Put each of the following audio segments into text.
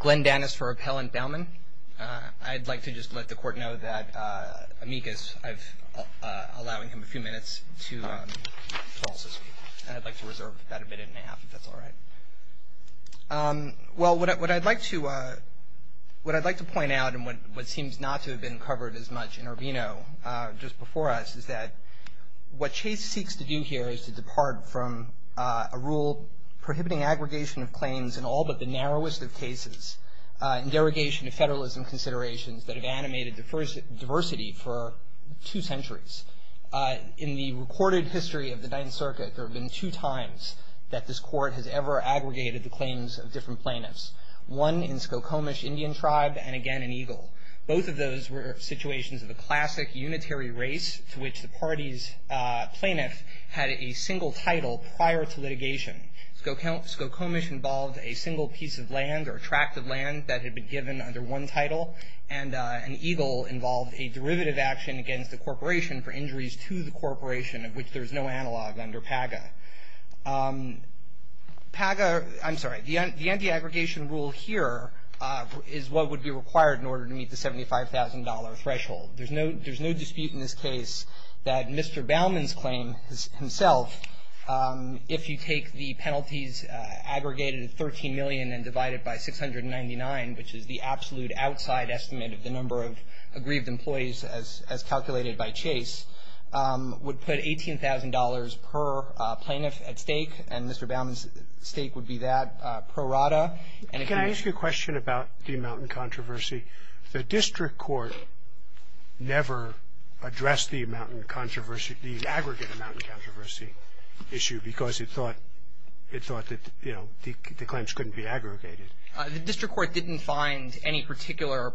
Glen Dannis for Appellant Baumann. I'd like to just let the court know that Amicus, I've allowing him a few minutes to also speak, and I'd like to reserve about a minute and a half if that's all right. Well, what I'd like to point out, and what seems not to have been covered as much in Urbino just before us, is that what Chase seeks to do here is to depart from a rule prohibiting aggregation of claims in all but the narrowest of cases, in derogation of federalism considerations that have animated diversity for two centuries. In the recorded history of the Ninth Circuit, there have been two times that this court has ever aggregated the claims of different plaintiffs. One in Skokomish Indian Tribe, and again in Eagle. Both of those were situations of the classic unitary race to which the party's plaintiff had a single title prior to litigation. Skokomish involved a single piece of land or tract of land that had been given under one title, and Eagle involved a derivative action against the corporation for injuries to the corporation of which there's no analog under PAGA. PAGA, I'm sorry, the anti-aggregation rule here is what would be required in order to meet the $75,000 threshold. There's no dispute in this case that Mr. Baumann's claim himself, if you take the penalties aggregated at $13 million and divided by $699,000, which is the absolute outside estimate of the number of aggrieved employees as calculated by Chase, would put $18,000 per plaintiff at stake, and Mr. Baumann's stake would be that pro rata. Can I ask you a question about the amount in controversy? The district court never addressed the amount in controversy, the aggregate amount in controversy issue because it thought that, you know, the claims couldn't be aggregated. The district court didn't find any particular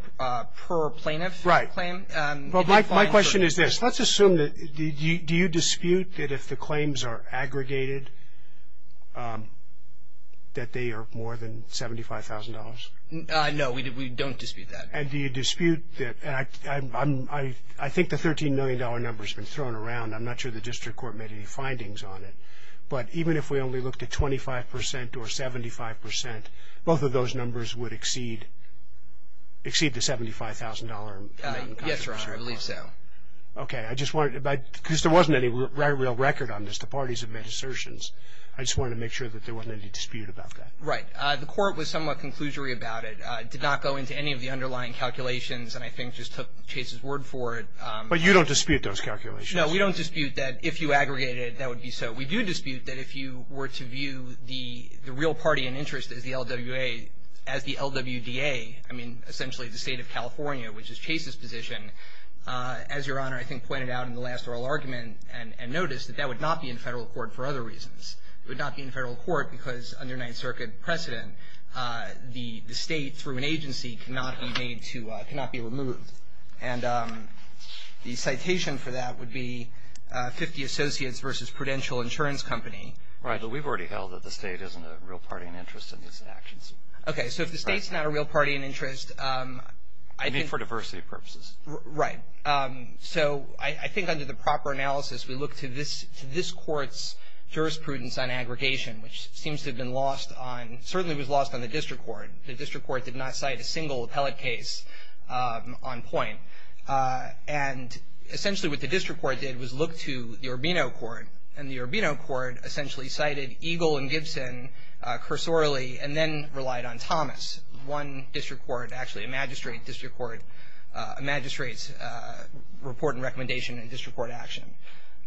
per-plaintiff claim. Well, my question is this. Let's assume that, do you dispute that if the claims are aggregated, that they are more than $75,000? No, we don't dispute that. And do you dispute that, and I think the $13 million number has been thrown around. I'm not sure the district court made any findings on it, but even if we only looked at 25% or 75%, both of those numbers would exceed the $75,000 amount. Yes, Your Honor, I believe so. Okay, I just wanted to, because there wasn't any real record on this. The parties have made assertions. I just wanted to make sure that there wasn't any dispute about that. Right. The court was somewhat conclusory about it. It did not go into any of the underlying calculations, and I think just took Chase's word for it. But you don't dispute those calculations? No, we don't dispute that if you aggregate it, that would be so. We do dispute that if you were to view the real party in interest as the LWA, as the LWDA, I mean, essentially the state of California, which is Chase's position, as Your Honor, I think pointed out in the last oral argument and noticed that that would not be in federal court for other reasons. It would not be in federal court because under Ninth Circuit precedent, the state, through an agency, cannot be made to, cannot be removed. And the citation for that would be 50 Associates versus Prudential Insurance Company. Right, but we've already held that the state isn't a real party in interest in these actions. Okay, so if the state's not a real party in interest, I think. Maybe for diversity purposes. Right. So I think under the proper analysis, we look to this court's jurisprudence on aggregation, which seems to have been lost on, certainly was lost on the district court. The district court did not cite a single appellate case on point. And essentially what the district court did was look to the Urbino court, and the Urbino court essentially cited Eagle and Gibson cursorily and then relied on Thomas, one district court, actually a magistrate district court, a magistrate's report and recommendation and district court action.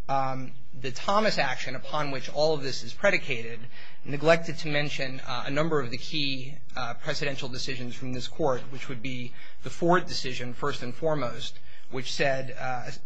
The Thomas action, upon which all of this is predicated, neglected to mention a number of the key presidential decisions from this court, which would be the Ford decision, first and foremost, which said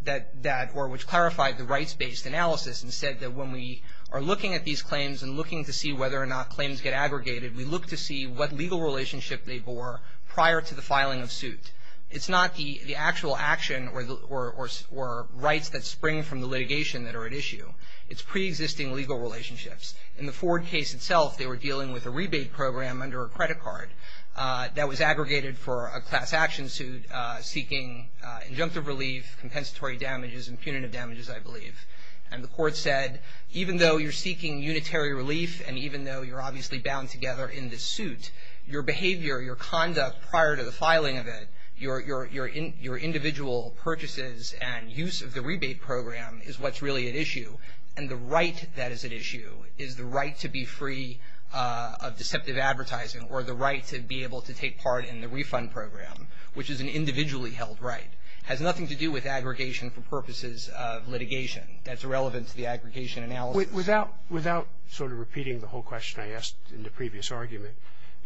that, or which clarified the rights-based analysis and said that when we are looking at these claims and looking to see whether or not claims get aggregated, we look to see what legal relationship they bore prior to the filing of suit. It's not the actual action or rights that spring from the litigation that are at issue. It's pre-existing legal relationships. In the Ford case itself, they were dealing with a rebate program under a credit card that was aggregated for a class action suit seeking injunctive relief, compensatory damages and punitive damages, I believe. And the court said, even though you're seeking unitary relief and even though you're obviously bound together in this suit, your behavior, your conduct prior to the filing of it, your individual purchases and use of the rebate program is what's really at issue. And the right that is at issue is the right to be free of deceptive advertising or the right to be able to take part in the refund program, which is an individually held right, has nothing to do with aggregation for purposes of litigation. That's irrelevant to the aggregation analysis. Without sort of repeating the whole question I asked in the previous argument,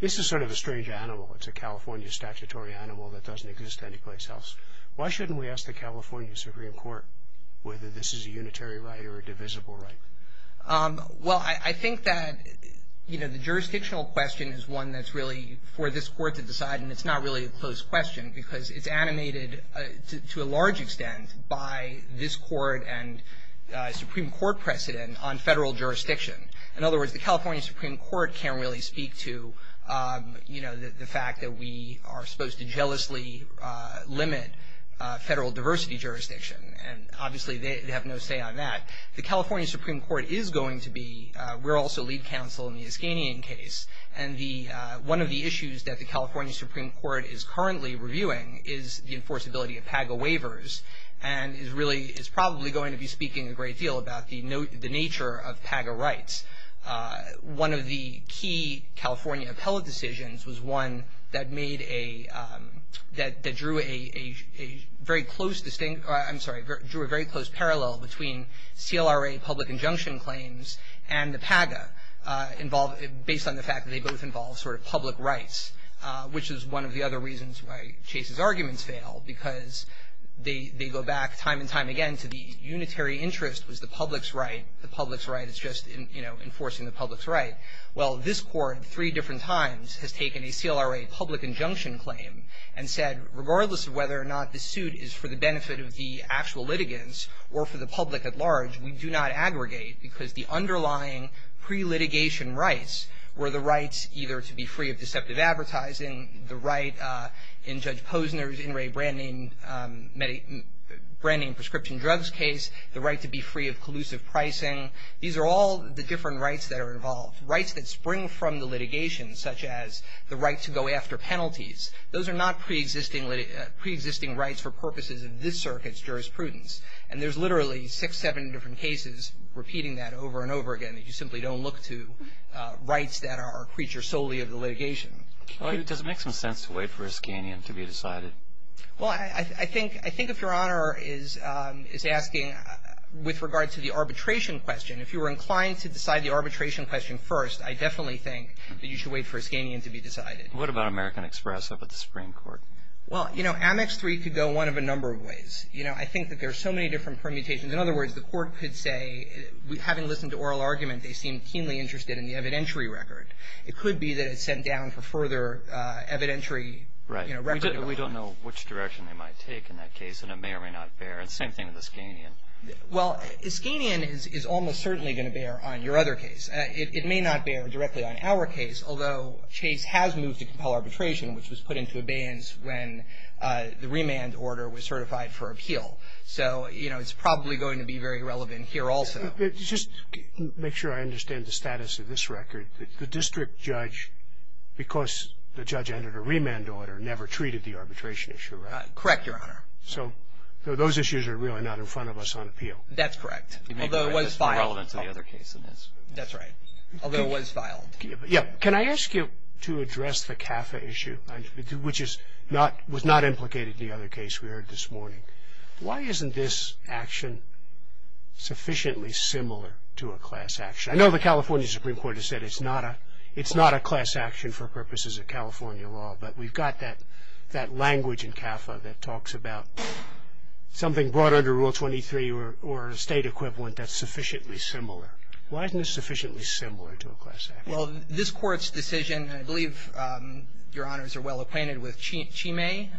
this is sort of a strange animal. It's a California statutory animal that doesn't exist anyplace else. Why shouldn't we ask the California Supreme Court whether this is a unitary right or a divisible right? Well, I think that, you know, the jurisdictional question is one that's really for this court to decide. And it's not really a closed question because it's animated to a large extent by this court and Supreme Court precedent on federal jurisdiction. In other words, the California Supreme Court can't really speak to, you know, the fact that we are supposed to jealously limit federal diversity jurisdiction. And obviously, they have no say on that. The California Supreme Court is going to be, we're also lead counsel in the Iskanyan case. And one of the issues that the California Supreme Court is currently reviewing is the enforceability of PAGA waivers and is really, is probably going to be speaking a great deal about the nature of PAGA rights. One of the key California appellate decisions was one that made a, that drew a very close distinct, I'm sorry, drew a very close parallel between CLRA public injunction claims and the PAGA, based on the fact that they both involve sort of public rights, which is one of the other reasons why Chase's arguments fail. Because they go back time and time again to the unitary interest was the public's right. The public's right is just, you know, enforcing the public's right. Well, this court, three different times, has taken a CLRA public injunction claim and said, regardless of whether or not the suit is for the benefit of the actual litigants or for the public at large, we do not aggregate because the underlying pre-litigation rights were the rights either to be free of deceptive advertising, the right in Judge Posner's In re Branding Prescription Drugs case, the right to be free of collusive pricing. These are all the different rights that are involved. Rights that spring from the litigation, such as the right to go after penalties. Those are not pre-existing rights for purposes of this circuit's jurisprudence. And there's literally six, seven different cases repeating that over and over again, that you simply don't look to rights that are creatures solely of the litigation. Well, does it make some sense to wait for Iskanian to be decided? Well, I think if Your Honor is asking with regard to the arbitration question, if you were inclined to decide the arbitration question first, I definitely think that you should wait for Iskanian to be decided. What about American Express up at the Supreme Court? Well, you know, Amex 3 could go one of a number of ways. You know, I think that there's so many different permutations. In other words, the court could say, having listened to oral argument, they seem keenly interested in the evidentiary record. It could be that it's sent down for further evidentiary record. Right. We don't know which direction they might take in that case, and it may or may not bear. And same thing with Iskanian. Well, Iskanian is almost certainly going to bear on your other case. It may not bear directly on our case, although Chase has moved to compel arbitration, which was put into abeyance when the remand order was certified for appeal. So, you know, it's probably going to be very relevant here also. Just to make sure I understand the status of this record, the district judge, because the judge entered a remand order, never treated the arbitration issue, right? Correct, Your Honor. So those issues are really not in front of us on appeal. That's correct. Although it was filed. Can I ask you to address the CAFA issue, which was not implicated in the other case we heard this morning? Why isn't this action sufficiently similar to a class action? I know the California Supreme Court has said it's not a class action for purposes of California law, but we've got that language in CAFA that talks about something brought under Rule 23 or a State equivalent that's sufficiently similar. Why isn't this sufficiently similar to a class action? Well, this Court's decision, and I believe Your Honors are well acquainted with Chime.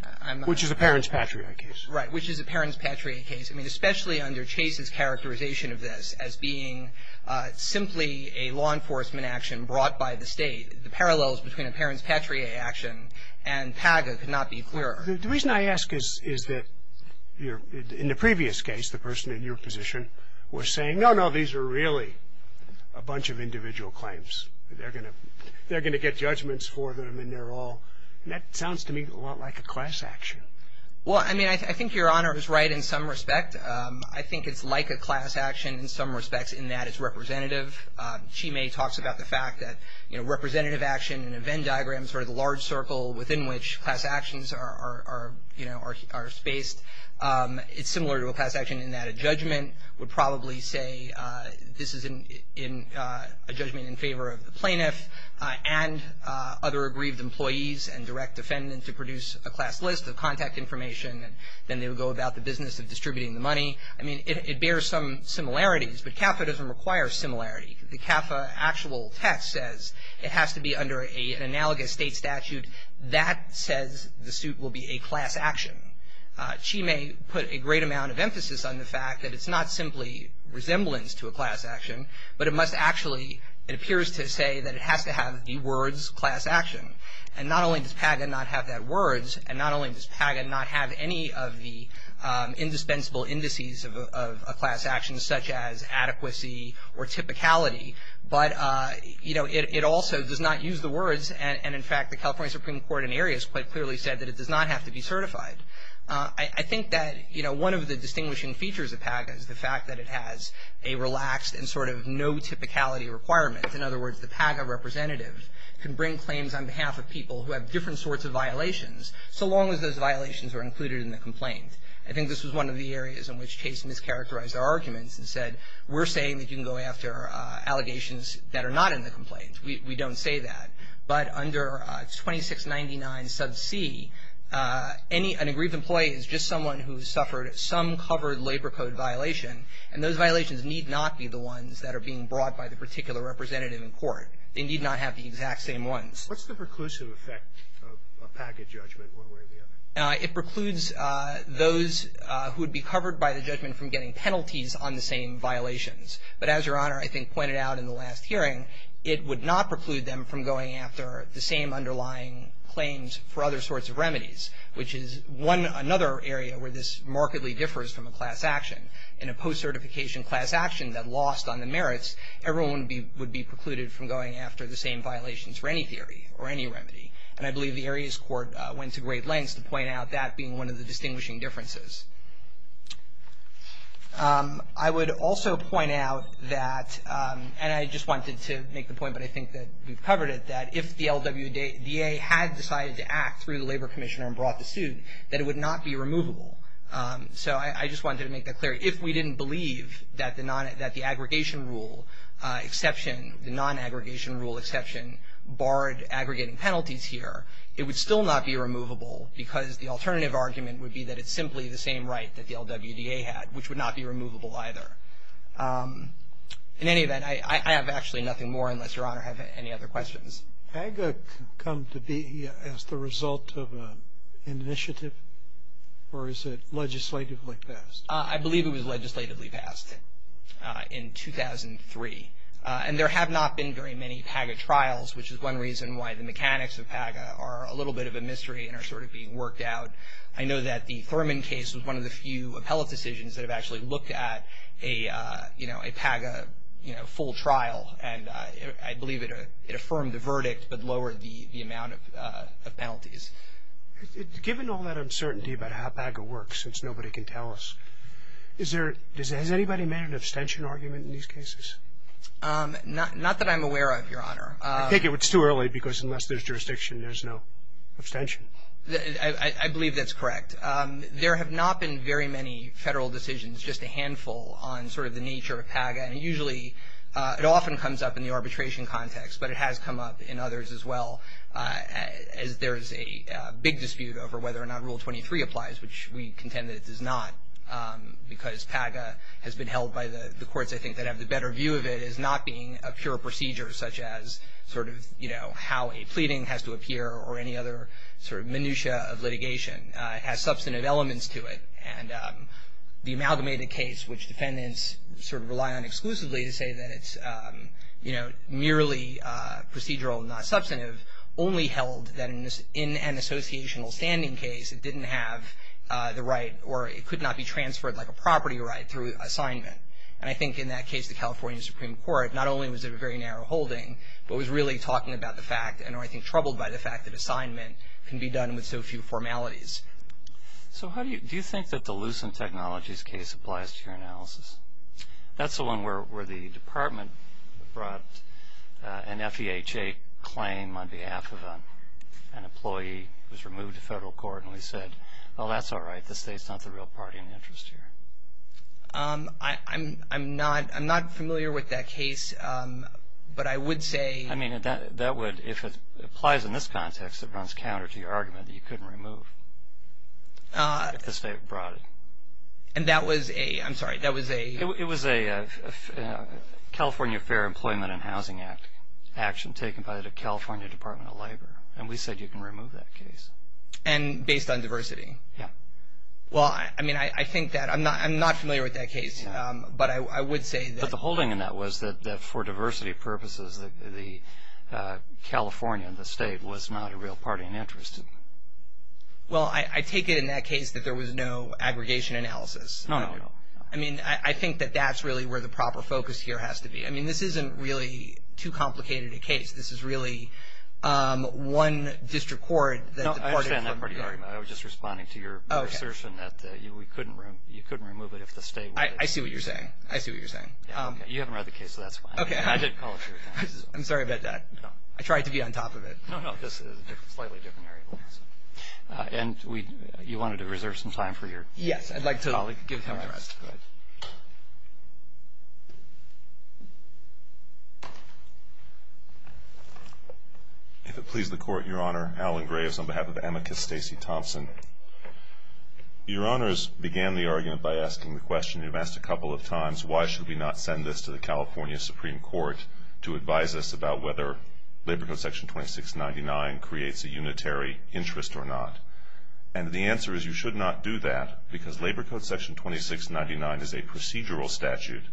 Which is a parents-patriarch case. Right. Which is a parents-patriarch case. I mean, especially under Chase's characterization of this as being simply a law enforcement action brought by the State, the parallels between a parents-patriarch action and PAGA could not be clearer. The reason I ask is that in the previous case, the person in your position was saying, no, no, these are really a bunch of individual claims. They're going to get judgments for them, and they're all, and that sounds to me a lot like a class action. Well, I mean, I think Your Honor is right in some respect. I think it's like a class action in some respects in that it's representative. Chime talks about the fact that representative action and event diagrams are the large circle within which class actions are, you know, are spaced. It's similar to a class action in that a judgment would probably say this is a judgment in favor of the plaintiff and other aggrieved employees and direct defendants to produce a class list of contact information. Then they would go about the business of distributing the money. I mean, it bears some similarities, but CAFA doesn't require similarity. The CAFA actual text says it has to be under an analogous state statute. That says the suit will be a class action. Chime put a great amount of emphasis on the fact that it's not simply resemblance to a class action, but it must actually, it appears to say that it has to have the words class action. And not only does PAGA not have that words, and not only does PAGA not have any of the indispensable indices of a class action such as adequacy or typicality, but, you know, it also does not use the words, and in fact, the California Supreme Court in areas quite clearly said that it does not have to be certified. I think that, you know, one of the distinguishing features of PAGA is the fact that it has a relaxed and sort of no typicality requirement. In other words, the PAGA representative can bring claims on behalf of people who have different sorts of violations. So long as those violations are included in the complaint. I think this was one of the areas in which Chase mischaracterized our arguments and said, we're saying that you can go after allegations that are not in the complaint. We don't say that. But under 2699 sub c, any, an aggrieved employee is just someone who has suffered some covered labor code violation, and those violations need not be the ones that are being brought by the particular representative in court. They need not have the exact same ones. What's the preclusive effect of a PAGA judgment one way or the other? It precludes those who would be covered by the judgment from getting penalties on the same violations. But as Your Honor, I think, pointed out in the last hearing, it would not preclude them from going after the same underlying claims for other sorts of remedies, which is one, another area where this markedly differs from a class action. In a post-certification class action that lost on the merits, everyone would be precluded from going after the same violations for any theory or any remedy. And I believe the areas court went to great lengths to point out that being one of the distinguishing differences. I would also point out that, and I just wanted to make the point, but I think that we've covered it, that if the LWDA had decided to act through the Labor Commissioner and brought the suit, that it would not be removable. So I just wanted to make that clear. If we didn't believe that the aggregation rule exception, the non-aggregation rule exception, barred aggregating penalties here, it would still not be removable because the alternative argument would be that it's simply the same right that the LWDA had, which would not be removable either. In any event, I have actually nothing more unless Your Honor has any other questions. PAGA come to be as the result of an initiative, or is it legislatively passed? I believe it was legislatively passed in 2003. And there have not been very many PAGA trials, which is one reason why the mechanics of PAGA are a little bit of a mystery and are sort of being worked out. I know that the Thurman case was one of the few appellate decisions that have actually looked at a, you know, a PAGA, you know, full trial. And I believe it affirmed the verdict but lowered the amount of penalties. Given all that uncertainty about how PAGA works, since nobody can tell us, is there, has anybody made an abstention argument in these cases? Not that I'm aware of, Your Honor. I think it's too early because unless there's jurisdiction, there's no abstention. I believe that's correct. There have not been very many federal decisions, just a handful on sort of the nature of PAGA. And usually, it often comes up in the arbitration context, but it has come up in others as well as there's a big dispute over whether or not Rule 23 applies, which we contend that it does not because PAGA has been held by the courts, I think, that have the better view of it as not being a pure procedure such as sort of, you know, how a pleading has to appear or any other sort of minutiae of litigation. It has substantive elements to it. And the amalgamated case, which defendants sort of rely on exclusively to say that it's, you know, merely procedural, not substantive, only held that in an associational standing case, it didn't have the right or it could not be transferred like a property right through assignment. And I think in that case, the California Supreme Court, not only was it a very narrow holding, but was really talking about the fact and I think troubled by the fact that assignment can be done with so few formalities. So how do you, do you think that the Lucent Technologies case applies to your analysis? That's the one where the department brought an FEHA claim on behalf of an employee who was removed to federal court and we said, well, that's all right. The state's not the real party in interest here. I'm not familiar with that case, but I would say. I mean, that would, if it applies in this context, it runs counter to your argument that you couldn't remove if the state brought it. And that was a, I'm sorry, that was a. It was a California Fair Employment and Housing Act action taken by the California Department of Labor and we said you can remove that case. And based on diversity? Yeah. Well, I mean, I think that, I'm not familiar with that case, but I would say that. But the holding in that was that for diversity purposes, the California, the state was not a real party in interest. Well, I take it in that case that there was no aggregation analysis. No, no, no. I mean, I think that that's really where the proper focus here has to be. I mean, this isn't really too complicated a case. This is really one district court. No, I understand that part of your argument. I was just responding to your assertion that you couldn't remove it if the state. I see what you're saying. I see what you're saying. Yeah, okay. You haven't read the case, so that's fine. Okay. I didn't follow through with that. I'm sorry about that. No. I tried to be on top of it. No, no. This is a slightly different area. And you wanted to reserve some time for your colleague. Yes. I'd like to give him the rest. Go ahead. If it pleases the Court, Your Honor, Alan Graves on behalf of amicus Stacey Thompson. Your Honors began the argument by asking the question, you've asked a couple of times, why should we not send this to the California Supreme Court to advise us about whether Labor Code Section 2699 creates a unitary interest or not? And the answer is you should not do that because Labor Code Section 2699 is a procedural statute,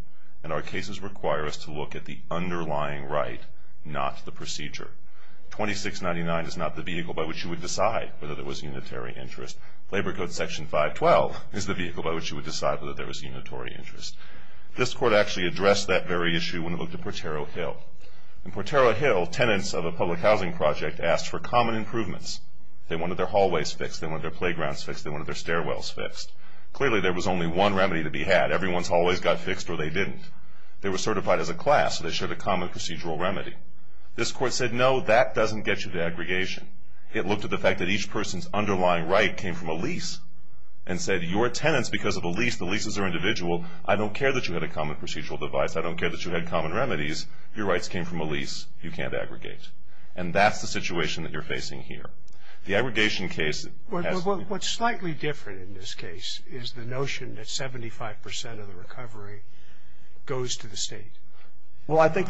and our cases require us to look at the underlying right, not the procedure. 2699 is not the vehicle by which you would decide whether there was unitary interest. Labor Code Section 512 is the vehicle by which you would decide whether there was unitary interest. This Court actually addressed that very issue when it looked at Portero Hill. In Portero Hill, tenants of a public housing project asked for common improvements. They wanted their hallways fixed. They wanted their playgrounds fixed. They wanted their stairwells fixed. Clearly, there was only one remedy to be had. Everyone's hallways got fixed or they didn't. They were certified as a class, so they shared a common procedural remedy. This Court said, no, that doesn't get you to aggregation. It looked at the fact that each person's underlying right came from a lease and said, your tenants, because of the lease, the leases are individual. I don't care that you had a common procedural device. I don't care that you had common remedies. Your rights came from a lease. You can't aggregate. And that's the situation that you're facing here. The aggregation case has to be. What's slightly different in this case is the notion that 75% of the recovery goes to the state. Well, I think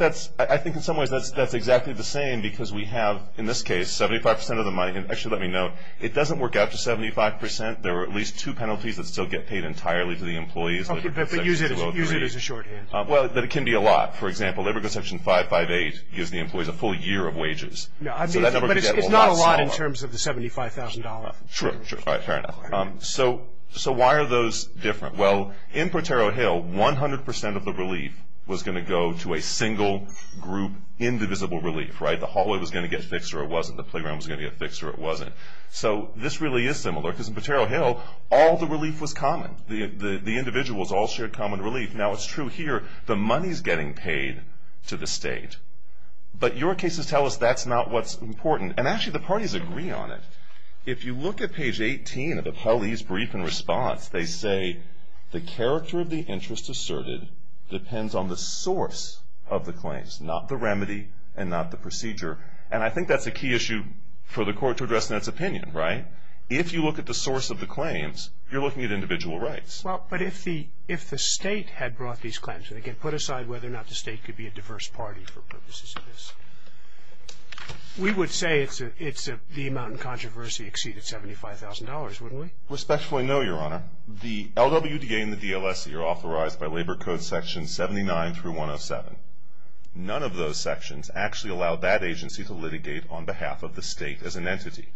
in some ways that's exactly the same because we have, in this case, 75% of the money. And actually, let me note, it doesn't work out to 75%. There are at least two penalties that still get paid entirely to the employees. Okay, but use it as a shorthand. Well, it can be a lot. For example, if it goes to section 558, it gives the employees a full year of wages. No, I mean, but it's not a lot in terms of the $75,000. Sure, sure, all right, fair enough. So why are those different? Well, in Potero Hill, 100% of the relief was going to go to a single group indivisible relief, right? The hallway was going to get fixed or it wasn't. The playground was going to get fixed or it wasn't. So this really is similar because in Potero Hill, all the relief was common. The individuals all shared common relief. Now, it's true here, the money's getting paid to the state. But your cases tell us that's not what's important. And actually, the parties agree on it. If you look at page 18 of the police brief and response, they say, the character of the interest asserted depends on the source of the claims, not the remedy and not the procedure. And I think that's a key issue for the court to address in its opinion, right? If you look at the source of the claims, you're looking at individual rights. Well, but if the state had brought these claims, and again, put aside whether or not the state could be a diverse party for purposes of this. We would say it's the amount of controversy exceeded $75,000, wouldn't we? Respectfully, no, Your Honor. The LWDA and the DLSC are authorized by Labor Code section 79 through 107. None of those sections actually allow that agency to litigate on behalf of the state as an entity.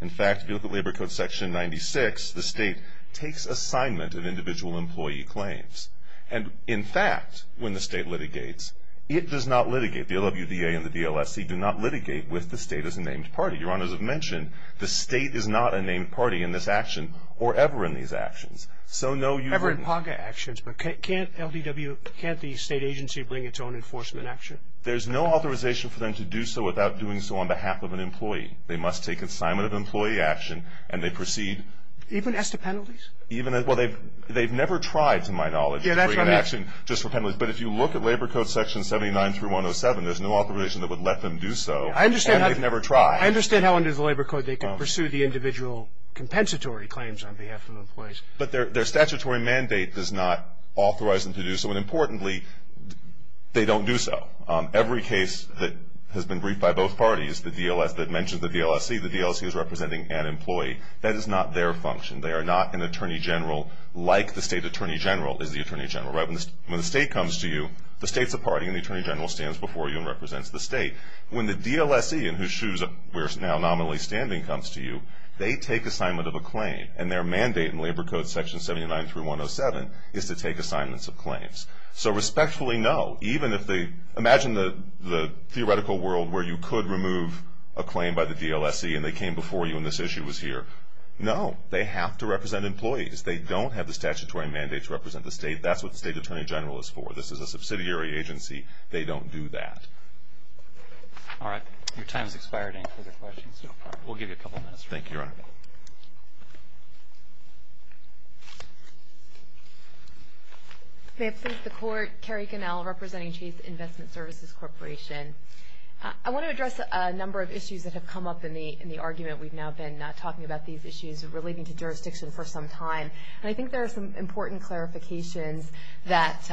In fact, if you look at Labor Code section 96, the state takes assignment of individual employee claims. And in fact, when the state litigates, it does not litigate. The LWDA and the DLSC do not litigate with the state as a named party. Your Honor, as I've mentioned, the state is not a named party in this action or ever in these actions. So no, you- Ever in PACA actions, but can't LDW, can't the state agency bring its own enforcement action? There's no authorization for them to do so without doing so on behalf of an employee. They must take assignment of employee action, and they proceed- Even as to penalties? Even as, well, they've never tried, to my knowledge, to bring an action just for penalties. But if you look at Labor Code section 79 through 107, there's no authorization that would let them do so, and they've never tried. I understand how under the Labor Code they could pursue the individual compensatory claims on behalf of employees. But their statutory mandate does not authorize them to do so. And importantly, they don't do so. Every case that has been briefed by both parties, the DLS, that mentions the DLSC, the DLSC is representing an employee. That is not their function. They are not an attorney general like the state attorney general is the attorney general, right? When the state comes to you, the state's a party, and the attorney general stands before you and represents the state. When the DLSC, in whose shoes we're now nominally standing, comes to you, they take assignment of a claim. And their mandate in Labor Code section 79 through 107 is to take assignments of claims. So respectfully, no. Even if they, imagine the theoretical world where you could remove a claim by the DLSC and they came before you and this issue was here. No, they have to represent employees. They don't have the statutory mandate to represent the state. That's what the state attorney general is for. This is a subsidiary agency. They don't do that. All right. Your time has expired. We'll give you a couple minutes. Thank you, Your Honor. May it please the Court, Keri Connell representing Chase Investment Services Corporation. I want to address a number of issues that have come up in the argument. We've now been talking about these issues relating to jurisdiction for some time. And I think there are some important clarifications that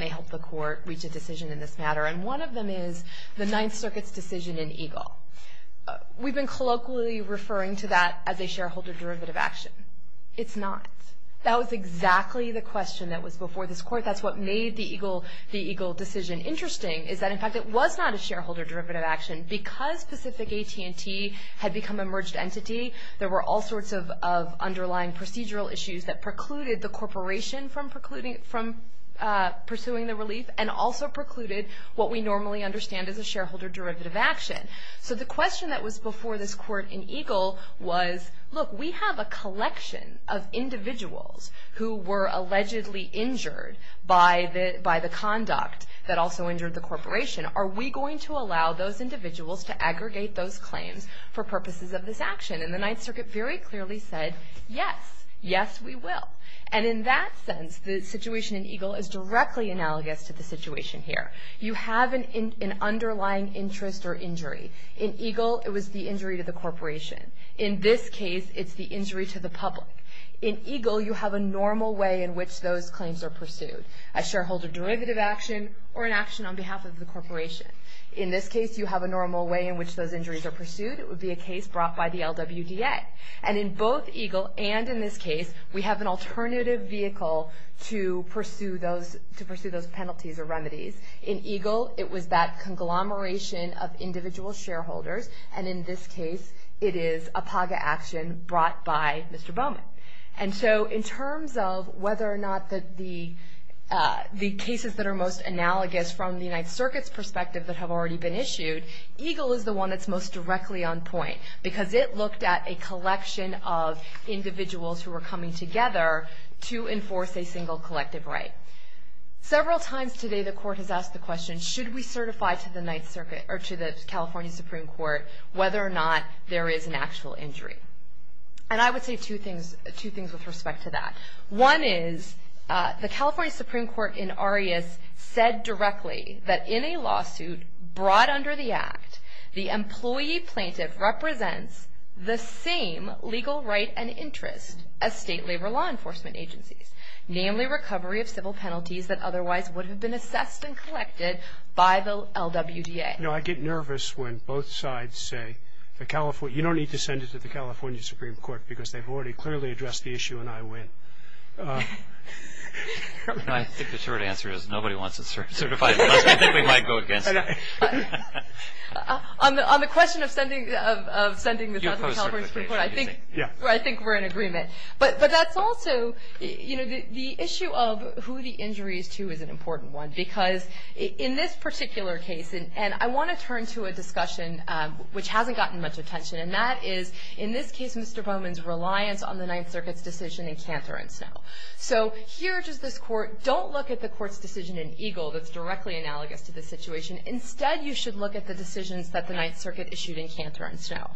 may help the Court reach a decision in this matter. And one of them is the Ninth Circuit's decision in EGLE. We've been colloquially referring to that as a shareholder derivative action. It's not. That was exactly the question that was before this Court. That's what made the EGLE decision interesting is that, in fact, it was not a shareholder derivative action. Because Pacific AT&T had become a merged entity, there were all sorts of underlying procedural issues that precluded the corporation from pursuing the relief. And also precluded what we normally understand as a shareholder derivative action. So the question that was before this Court in EGLE was, look, we have a collection of individuals who were allegedly injured by the conduct that also injured the corporation. Are we going to allow those individuals to aggregate those claims for purposes of this action? And the Ninth Circuit very clearly said, yes. Yes, we will. And in that sense, the situation in EGLE is directly analogous to the situation here. You have an underlying interest or injury. In EGLE, it was the injury to the corporation. In this case, it's the injury to the public. In EGLE, you have a normal way in which those claims are pursued. A shareholder derivative action or an action on behalf of the corporation. In this case, you have a normal way in which those injuries are pursued. It would be a case brought by the LWDA. And in both EGLE and in this case, we have an alternative vehicle to pursue those penalties or remedies. In EGLE, it was that conglomeration of individual shareholders. And in this case, it is a PAGA action brought by Mr. Bowman. And so in terms of whether or not the cases that are most analogous from the United Circuit's perspective that have already been issued, EGLE is the one that's most directly on point. Because it looked at a collection of individuals who were coming together to enforce a single collective right. Several times today, the court has asked the question, should we certify to the California Supreme Court whether or not there is an actual injury? And I would say two things with respect to that. One is the California Supreme Court in Arias said directly that in a lawsuit brought under the act, the employee plaintiff represents the same legal right and interest as state labor law enforcement agencies. Namely, recovery of civil penalties that otherwise would have been assessed and collected by the LWDA. You know, I get nervous when both sides say, you don't need to send it to the California Supreme Court because they've already clearly addressed the issue and I win. I think the short answer is nobody wants to certify it unless we think we might go against it. On the question of sending the California Supreme Court, I think we're in agreement. But that's also, you know, the issue of who the injury is to is an important one. Because in this particular case, and I want to turn to a discussion which hasn't gotten much attention. And that is, in this case, Mr. Bowman's reliance on the Ninth Circuit's decision in Cantor and Snow. So here, just this court, don't look at the court's decision in Eagle that's directly analogous to this situation. Instead, you should look at the decisions that the Ninth Circuit issued in Cantor and Snow.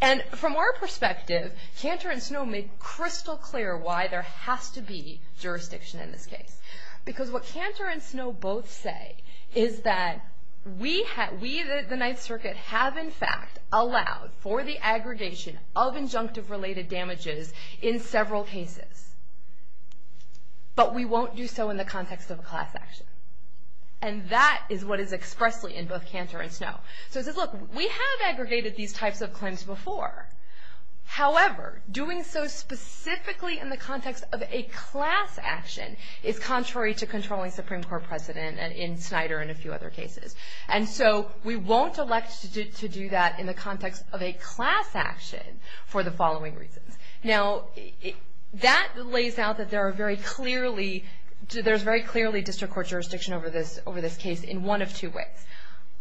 And from our perspective, Cantor and Snow make crystal clear why there has to be jurisdiction in this case. Because what Cantor and Snow both say is that we, the Ninth Circuit, have in fact allowed for the aggregation of injunctive-related damages in several cases. But we won't do so in the context of a class action. And that is what is expressly in both Cantor and Snow. So it says, look, we have aggregated these types of claims before. However, doing so specifically in the context of a class action is contrary to controlling Supreme Court precedent in Snyder and a few other cases. And so we won't elect to do that in the context of a class action for the following reasons. Now, that lays out that there are very clearly, there's very clearly district court jurisdiction over this case in one of two ways.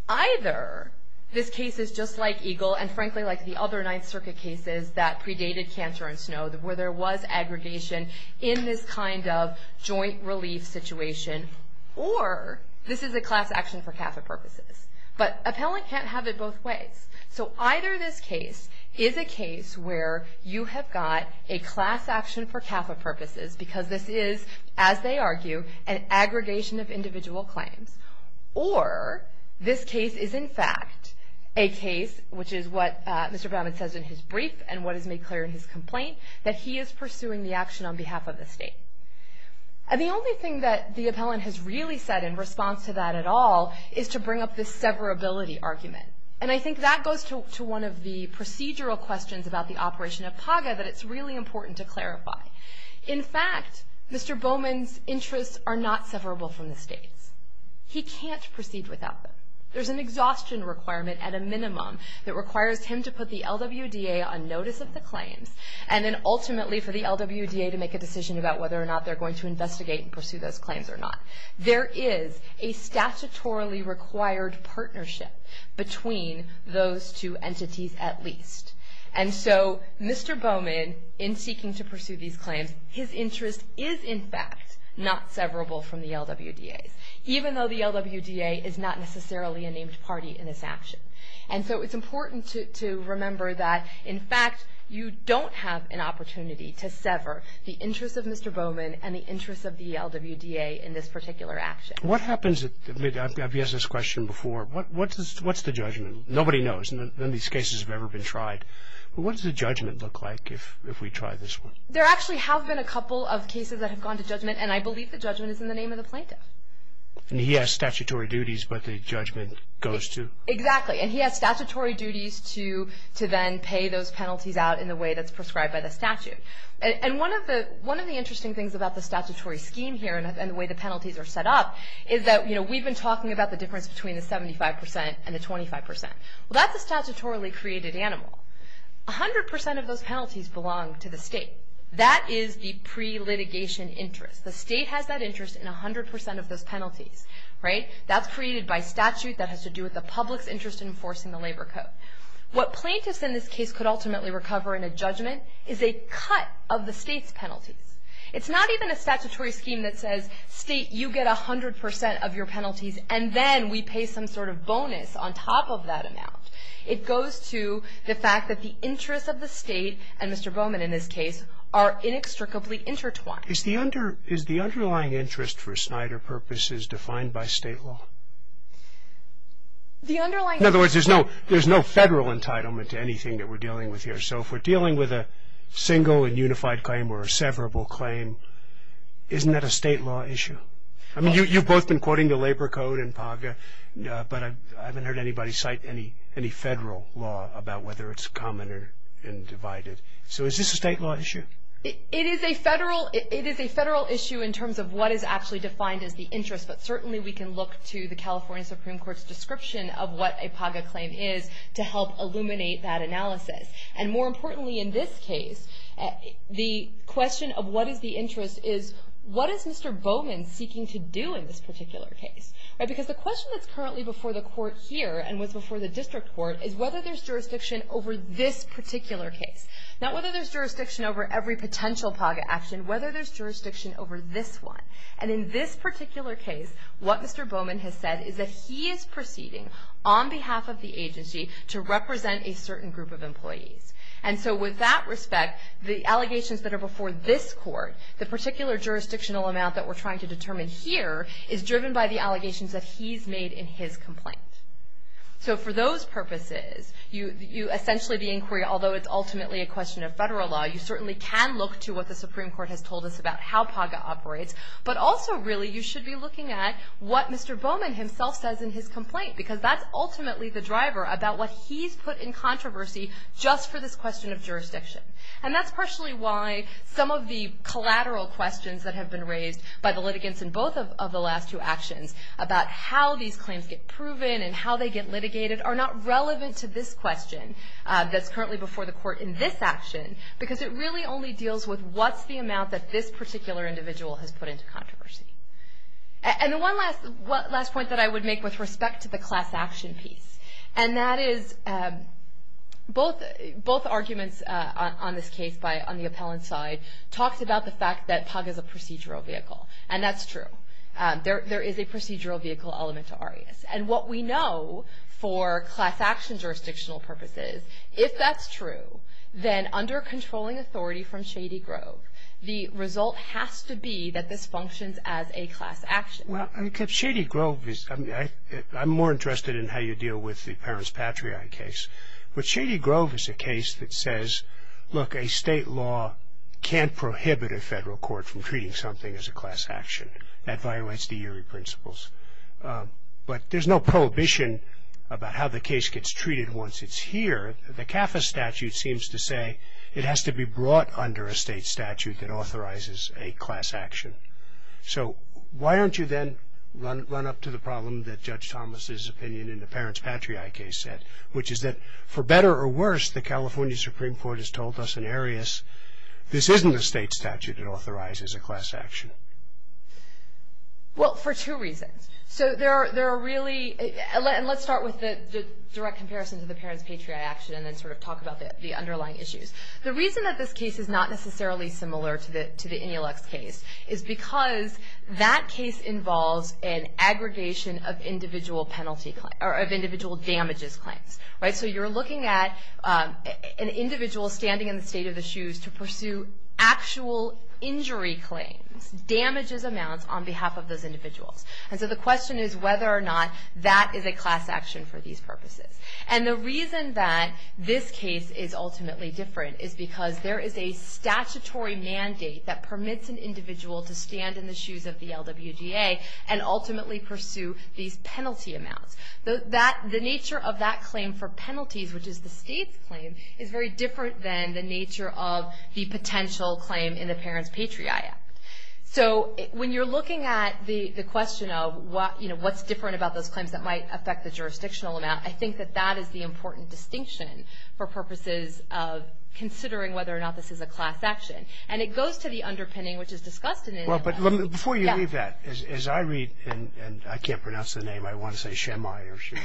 Either this case is just like Eagle, and frankly like the other Ninth Circuit cases that predated Cantor and Snow, where there was aggregation in this kind of joint relief situation, or this is a class action for CAFA purposes. But appellant can't have it both ways. So either this case is a case where you have got a class action for CAFA purposes, because this is, as they argue, an aggregation of individual claims. Or this case is, in fact, a case, which is what Mr. Bowman says in his brief, and what is made clear in his complaint, that he is pursuing the action on behalf of the state. And the only thing that the appellant has really said in response to that at all is to bring up this severability argument. And I think that goes to one of the procedural questions about the operation of PAGA that it's really important to clarify. In fact, Mr. Bowman's interests are not severable from the state's. He can't proceed without them. There's an exhaustion requirement, at a minimum, that requires him to put the LWDA on notice of the claims, and then ultimately for the LWDA to make a decision about whether or not they're going to investigate and pursue those claims or not. There is a statutorily required partnership between those two entities, at least. And so Mr. Bowman, in seeking to pursue these claims, his interest is, in fact, not severable from the LWDA's. Even though the LWDA is not necessarily a named party in this action. And so it's important to remember that, in fact, you don't have an opportunity to sever the interests of Mr. Bowman and the interests of the LWDA in this particular action. What happens, I've asked this question before, what's the judgment? Nobody knows, none of these cases have ever been tried. But what does the judgment look like if we try this one? And I believe the judgment is in the name of the plaintiff. And he has statutory duties, but the judgment goes to... Exactly, and he has statutory duties to then pay those penalties out in the way that's prescribed by the statute. And one of the interesting things about the statutory scheme here, and the way the penalties are set up, is that we've been talking about the difference between the 75% and the 25%. Well, that's a statutorily created animal. 100% of those penalties belong to the state. That is the pre-litigation interest. The state has that interest in 100% of those penalties, right? That's created by statute, that has to do with the public's interest in enforcing the labor code. What plaintiffs in this case could ultimately recover in a judgment is a cut of the state's penalties. It's not even a statutory scheme that says, state, you get 100% of your penalties, and then we pay some sort of bonus on top of that amount. It goes to the fact that the interests of the state, and Mr. Bowman in this case, are inextricably intertwined. Is the underlying interest for Snyder purposes defined by state law? The underlying... In other words, there's no federal entitlement to anything that we're dealing with here. So if we're dealing with a single and unified claim, or a severable claim, isn't that a state law issue? I mean, you've both been quoting the labor code and PAGA, but I haven't heard anybody cite any federal law about whether it's common and divided. So is this a state law issue? It is a federal issue in terms of what is actually defined as the interest, but certainly we can look to the California Supreme Court's description of what a PAGA claim is to help illuminate that analysis. And more importantly in this case, the question of what is the interest is, what is Mr. Bowman seeking to do in this particular case? Because the question that's currently before the court here, and was before the district court, is whether there's jurisdiction over this particular case. Not whether there's jurisdiction over every potential PAGA action, whether there's jurisdiction over this one. And in this particular case, what Mr. Bowman has said is that he is proceeding on behalf of the agency to represent a certain group of employees. And so with that respect, the allegations that are before this court, the particular jurisdictional amount that we're trying to determine here is driven by the allegations that he's made in his complaint. So for those purposes, you essentially, the inquiry, although it's ultimately a question of federal law, you certainly can look to what the Supreme Court has told us about how PAGA operates, but also really you should be looking at what Mr. Bowman himself says in his complaint. Because that's ultimately the driver about what he's put in controversy just for this question of jurisdiction. And that's partially why some of the collateral questions that have been raised by the litigants in both of the last two actions about how these claims get proven and how they get litigated are not relevant to this question that's currently before the court in this action, because it really only deals with what's the amount that this particular individual has put into controversy. And the one last point that I would make with respect to the class action piece, and that is both arguments on this case on the appellant side talks about the fact that PAGA is a procedural vehicle, and that's true. There is a procedural vehicle element to ARIAS. And what we know for class action jurisdictional purposes, if that's true, then under controlling authority from Shady Grove, the result has to be that this functions as a class action. Well, Shady Grove is, I'm more interested in how you deal with the Parents Patriot case. But Shady Grove is a case that says, look, a state law can't prohibit a federal court from treating something as a class action. That violates the eerie principles. But there's no prohibition about how the case gets treated once it's here. The CAFA statute seems to say it has to be brought under a state statute that authorizes a class action. So why don't you then run up to the problem that Judge Thomas's opinion in the Parents Patriot case said, which is that, for better or worse, the California Supreme Court has told us in ARIAS, this isn't a state statute that authorizes a class action. Well, for two reasons. So there are really, and let's start with the direct comparison to the Parents Patriot action and then sort of talk about the underlying issues. The reason that this case is not necessarily similar to the Enelux case is because that case involves an aggregation of individual damages claims. Right? So you're looking at an individual standing in the state of the shoes to pursue actual injury claims, damages amounts on behalf of those individuals. And so the question is whether or not that is a class action for these purposes. And the reason that this case is ultimately different is because there is a statutory mandate that permits an individual to stand in the shoes of the LWGA and ultimately pursue these penalty amounts. The nature of that claim for penalties, which is the state's claim, is very different than the nature of the potential claim in the Parents Patriot Act. So when you're looking at the question of, you know, what's different about those claims that might affect the jurisdictional amount, I think that that is the important distinction for purposes of considering whether or not this is a class action. And it goes to the underpinning, which is discussed in Enelux. Well, but before you leave that, as I read, and I can't pronounce the name, I want to say Shemai or Shemayu.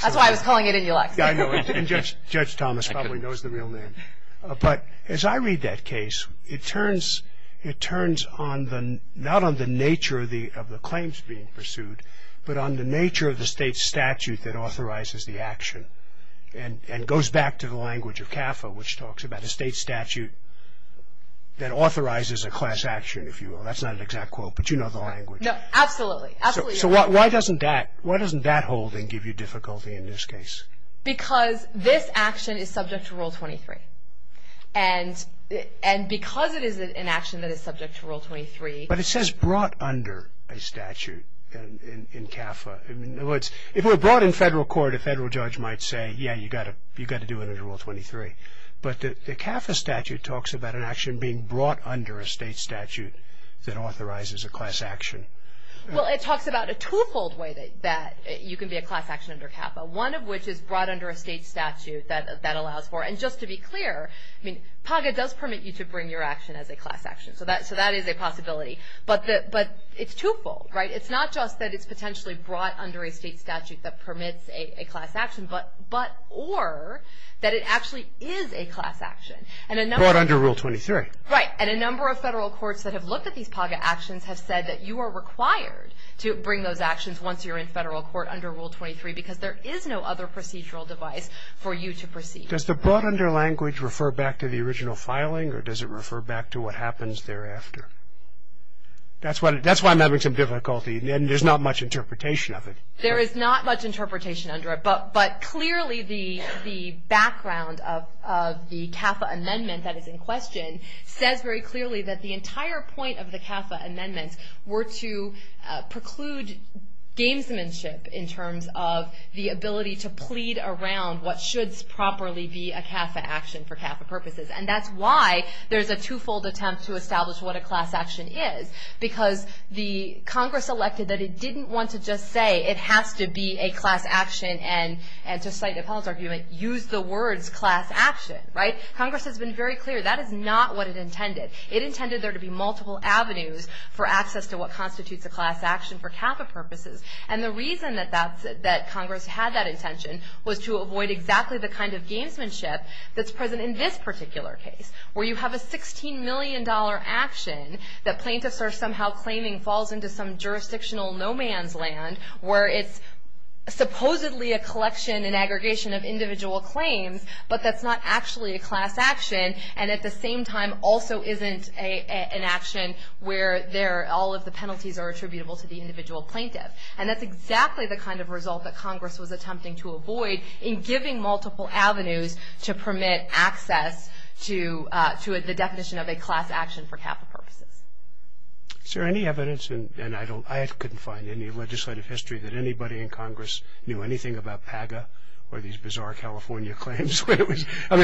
That's why I was calling it Enelux. I know. And Judge Thomas probably knows the real name. But as I read that case, it turns on the, not on the nature of the claims being pursued, but on the nature of the state statute that authorizes the action. And it goes back to the language of CAFA, which talks about a state statute that authorizes a class action, if you will. That's not an exact quote, but you know the language. No, absolutely. Absolutely. So why doesn't that, why doesn't that holding give you difficulty in this case? Because this action is subject to Rule 23. And because it is an action that is subject to Rule 23. But it says brought under a statute in CAFA. In other words, if it were brought in federal court, a federal judge might say, yeah, you got to do it under Rule 23. But the CAFA statute talks about an action being brought under a state statute that authorizes a class action. Well, it talks about a two-fold way that you can be a class action under CAFA, one of which is brought under a state statute that allows for. And just to be clear, I mean, PAGA does permit you to bring your action as a class action. So that is a possibility. But it's two-fold, right? It's not just that it's potentially brought under a state statute that permits a class action. But, or that it actually is a class action. And a number. Brought under Rule 23. Right. And a number of federal courts that have looked at these PAGA actions have said that you are required to bring those actions once you're in federal court under Rule 23. Because there is no other procedural device for you to proceed. Does the brought under language refer back to the original filing? Or does it refer back to what happens thereafter? That's why I'm having some difficulty. And there's not much interpretation of it. There is not much interpretation under it. But clearly the background of the CAFA amendment that is in question says very clearly that the entire point of the CAFA amendments were to preclude gamesmanship in terms of the ability to plead around what should properly be a CAFA action for CAFA purposes. And that's why there's a two-fold attempt to establish what a class action is. Because the Congress elected that it didn't want to just say it has to be a class action. And to cite Napoleon's argument, use the words class action. Right. Congress has been very clear that is not what it intended. It intended there to be multiple avenues for access to what constitutes a class action for CAFA purposes. And the reason that Congress had that intention was to avoid exactly the kind of gamesmanship that's present in this particular case. Where you have a $16 million action that plaintiffs are somehow claiming falls into some jurisdictional no-man's land where it's supposedly a collection and aggregation of individual claims, but that's not actually a class action. And at the same time also isn't an action where all of the penalties are attributable to the individual plaintiff. And that's exactly the kind of result that Congress was attempting to avoid in giving multiple avenues to permit access to the definition of a class action for CAFA purposes. Is there any evidence, and I couldn't find any legislative history that anybody in Congress knew anything about PAGA or these bizarre California claims? I mean,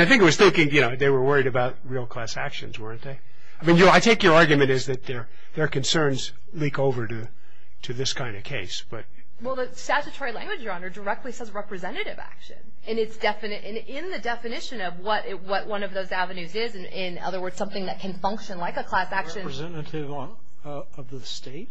I think it was still, you know, they were worried about real class actions, weren't they? I mean, I take your argument as that their concerns leak over to this kind of case, but. Well, the statutory language, Your Honor, directly says representative action. And it's, in the definition of what one of those avenues is, in other words, something that can function like a class action. Representative of the state?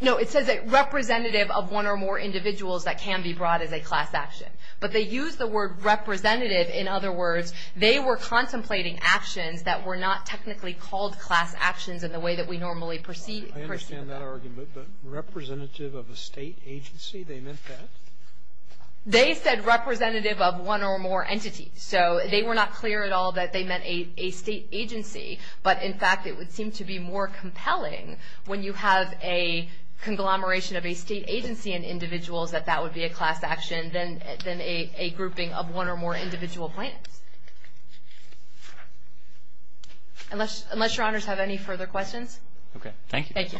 No, it says representative of one or more individuals that can be brought as a class action. But they use the word representative, in other words, they were contemplating actions that were not technically called class actions in the way that we normally perceive them. I take your argument, but representative of a state agency, they meant that? They said representative of one or more entities. So, they were not clear at all that they meant a state agency. But, in fact, it would seem to be more compelling when you have a conglomeration of a state agency and individuals that that would be a class action than a grouping of one or more individual plans. Unless Your Honors have any further questions? Okay. Thank you. Thank you.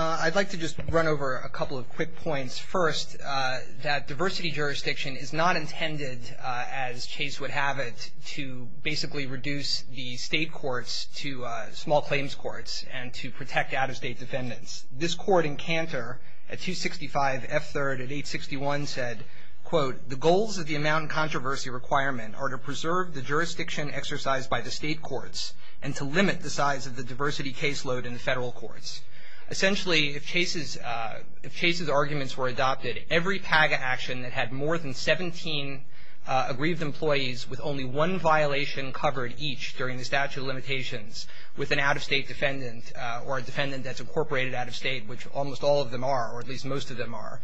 I'd like to just run over a couple of quick points. First, that diversity jurisdiction is not intended, as Chase would have it, to basically reduce the state courts to small claims courts and to protect out-of-state defendants. This court in Cantor at 265 F3rd at 861 said, quote, the goals of the amount and controversy requirement are to preserve the jurisdiction exercised by the state courts and to limit the size of the diversity caseload in the federal courts. Essentially, if Chase's arguments were adopted, every PAGA action that had more than 17 aggrieved employees with only one violation covered each during the statute of limitations with an out-of-state defendant or a defendant that's incorporated out-of-state, which almost all of them are, or at least most of them are,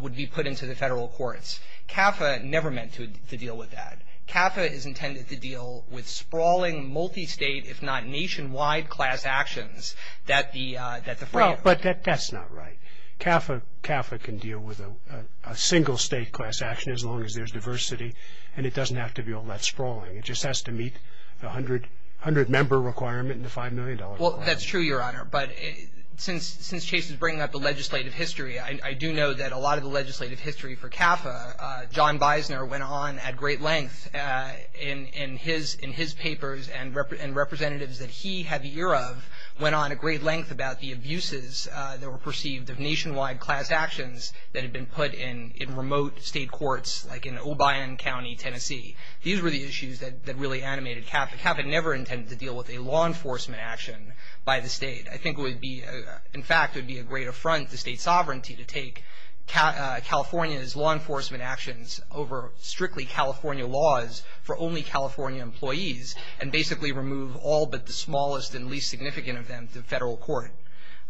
would be put into the federal courts. CAFA never meant to deal with that. CAFA is intended to deal with sprawling, multi-state, if not nationwide class actions that the frame. Well, but that's not right. CAFA can deal with a single-state class action as long as there's diversity, and it doesn't have to be all that sprawling. It just has to meet the 100-member requirement and the $5 million requirement. Well, that's true, Your Honor, but since Chase is bringing up the legislative history, I do know that a lot of the legislative history for CAFA, John Bisner went on at great length in his papers and representatives that he had the ear of went on at great length about the abuses that were perceived of nationwide class actions that had been put in remote state courts, like in Obeyan County, Tennessee. These were the issues that really animated CAFA. CAFA never intended to deal with a law enforcement action by the state. I think it would be, in fact, it would be a great affront to state sovereignty to take California's law enforcement actions over strictly California laws for only California employees and basically remove all but the smallest and least significant of them to federal court.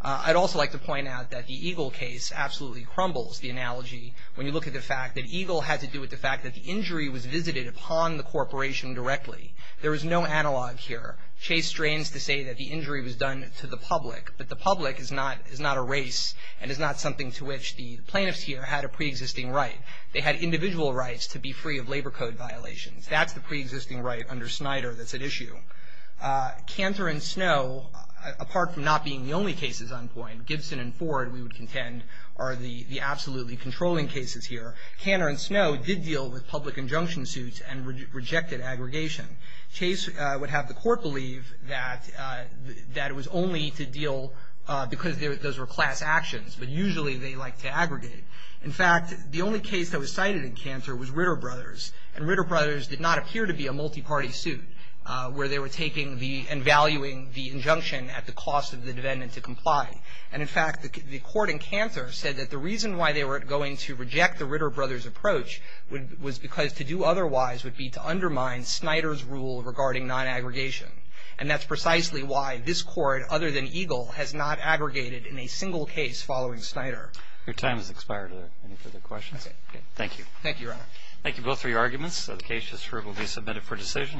I'd also like to point out that the Eagle case absolutely crumbles the analogy when you look at the fact that Eagle had to do with the fact that the injury was visited upon the corporation directly. There is no analog here. Chase strains to say that the injury was done to the public, but the public is not a race and is not something to which the plaintiffs here had a preexisting right. They had individual rights to be free of labor code violations. That's the preexisting right under Snyder that's at issue. Cantor and Snow, apart from not being the only cases on point, Gibson and Ford, we would contend, are the absolutely controlling cases here. Cantor and Snow did deal with public injunction suits and rejected aggregation. Chase would have the court believe that it was only to deal because those were class actions, but usually they like to aggregate. In fact, the only case that was cited in Cantor was Ritter Brothers, and Ritter Brothers did not appear to be a multi-party suit where they were taking the and valuing the injunction at the cost of the defendant to comply. And in fact, the court in Cantor said that the reason why they were going to reject the Ritter Brothers approach was because to do otherwise would be to undermine Snyder's rule regarding non-aggregation. And that's precisely why this court, other than Eagle, has not aggregated in a single case following Snyder. Your time has expired. Are there any further questions? Okay. Thank you. Thank you, Your Honor. Thank you both for your arguments. The case just ruled will be submitted for decision.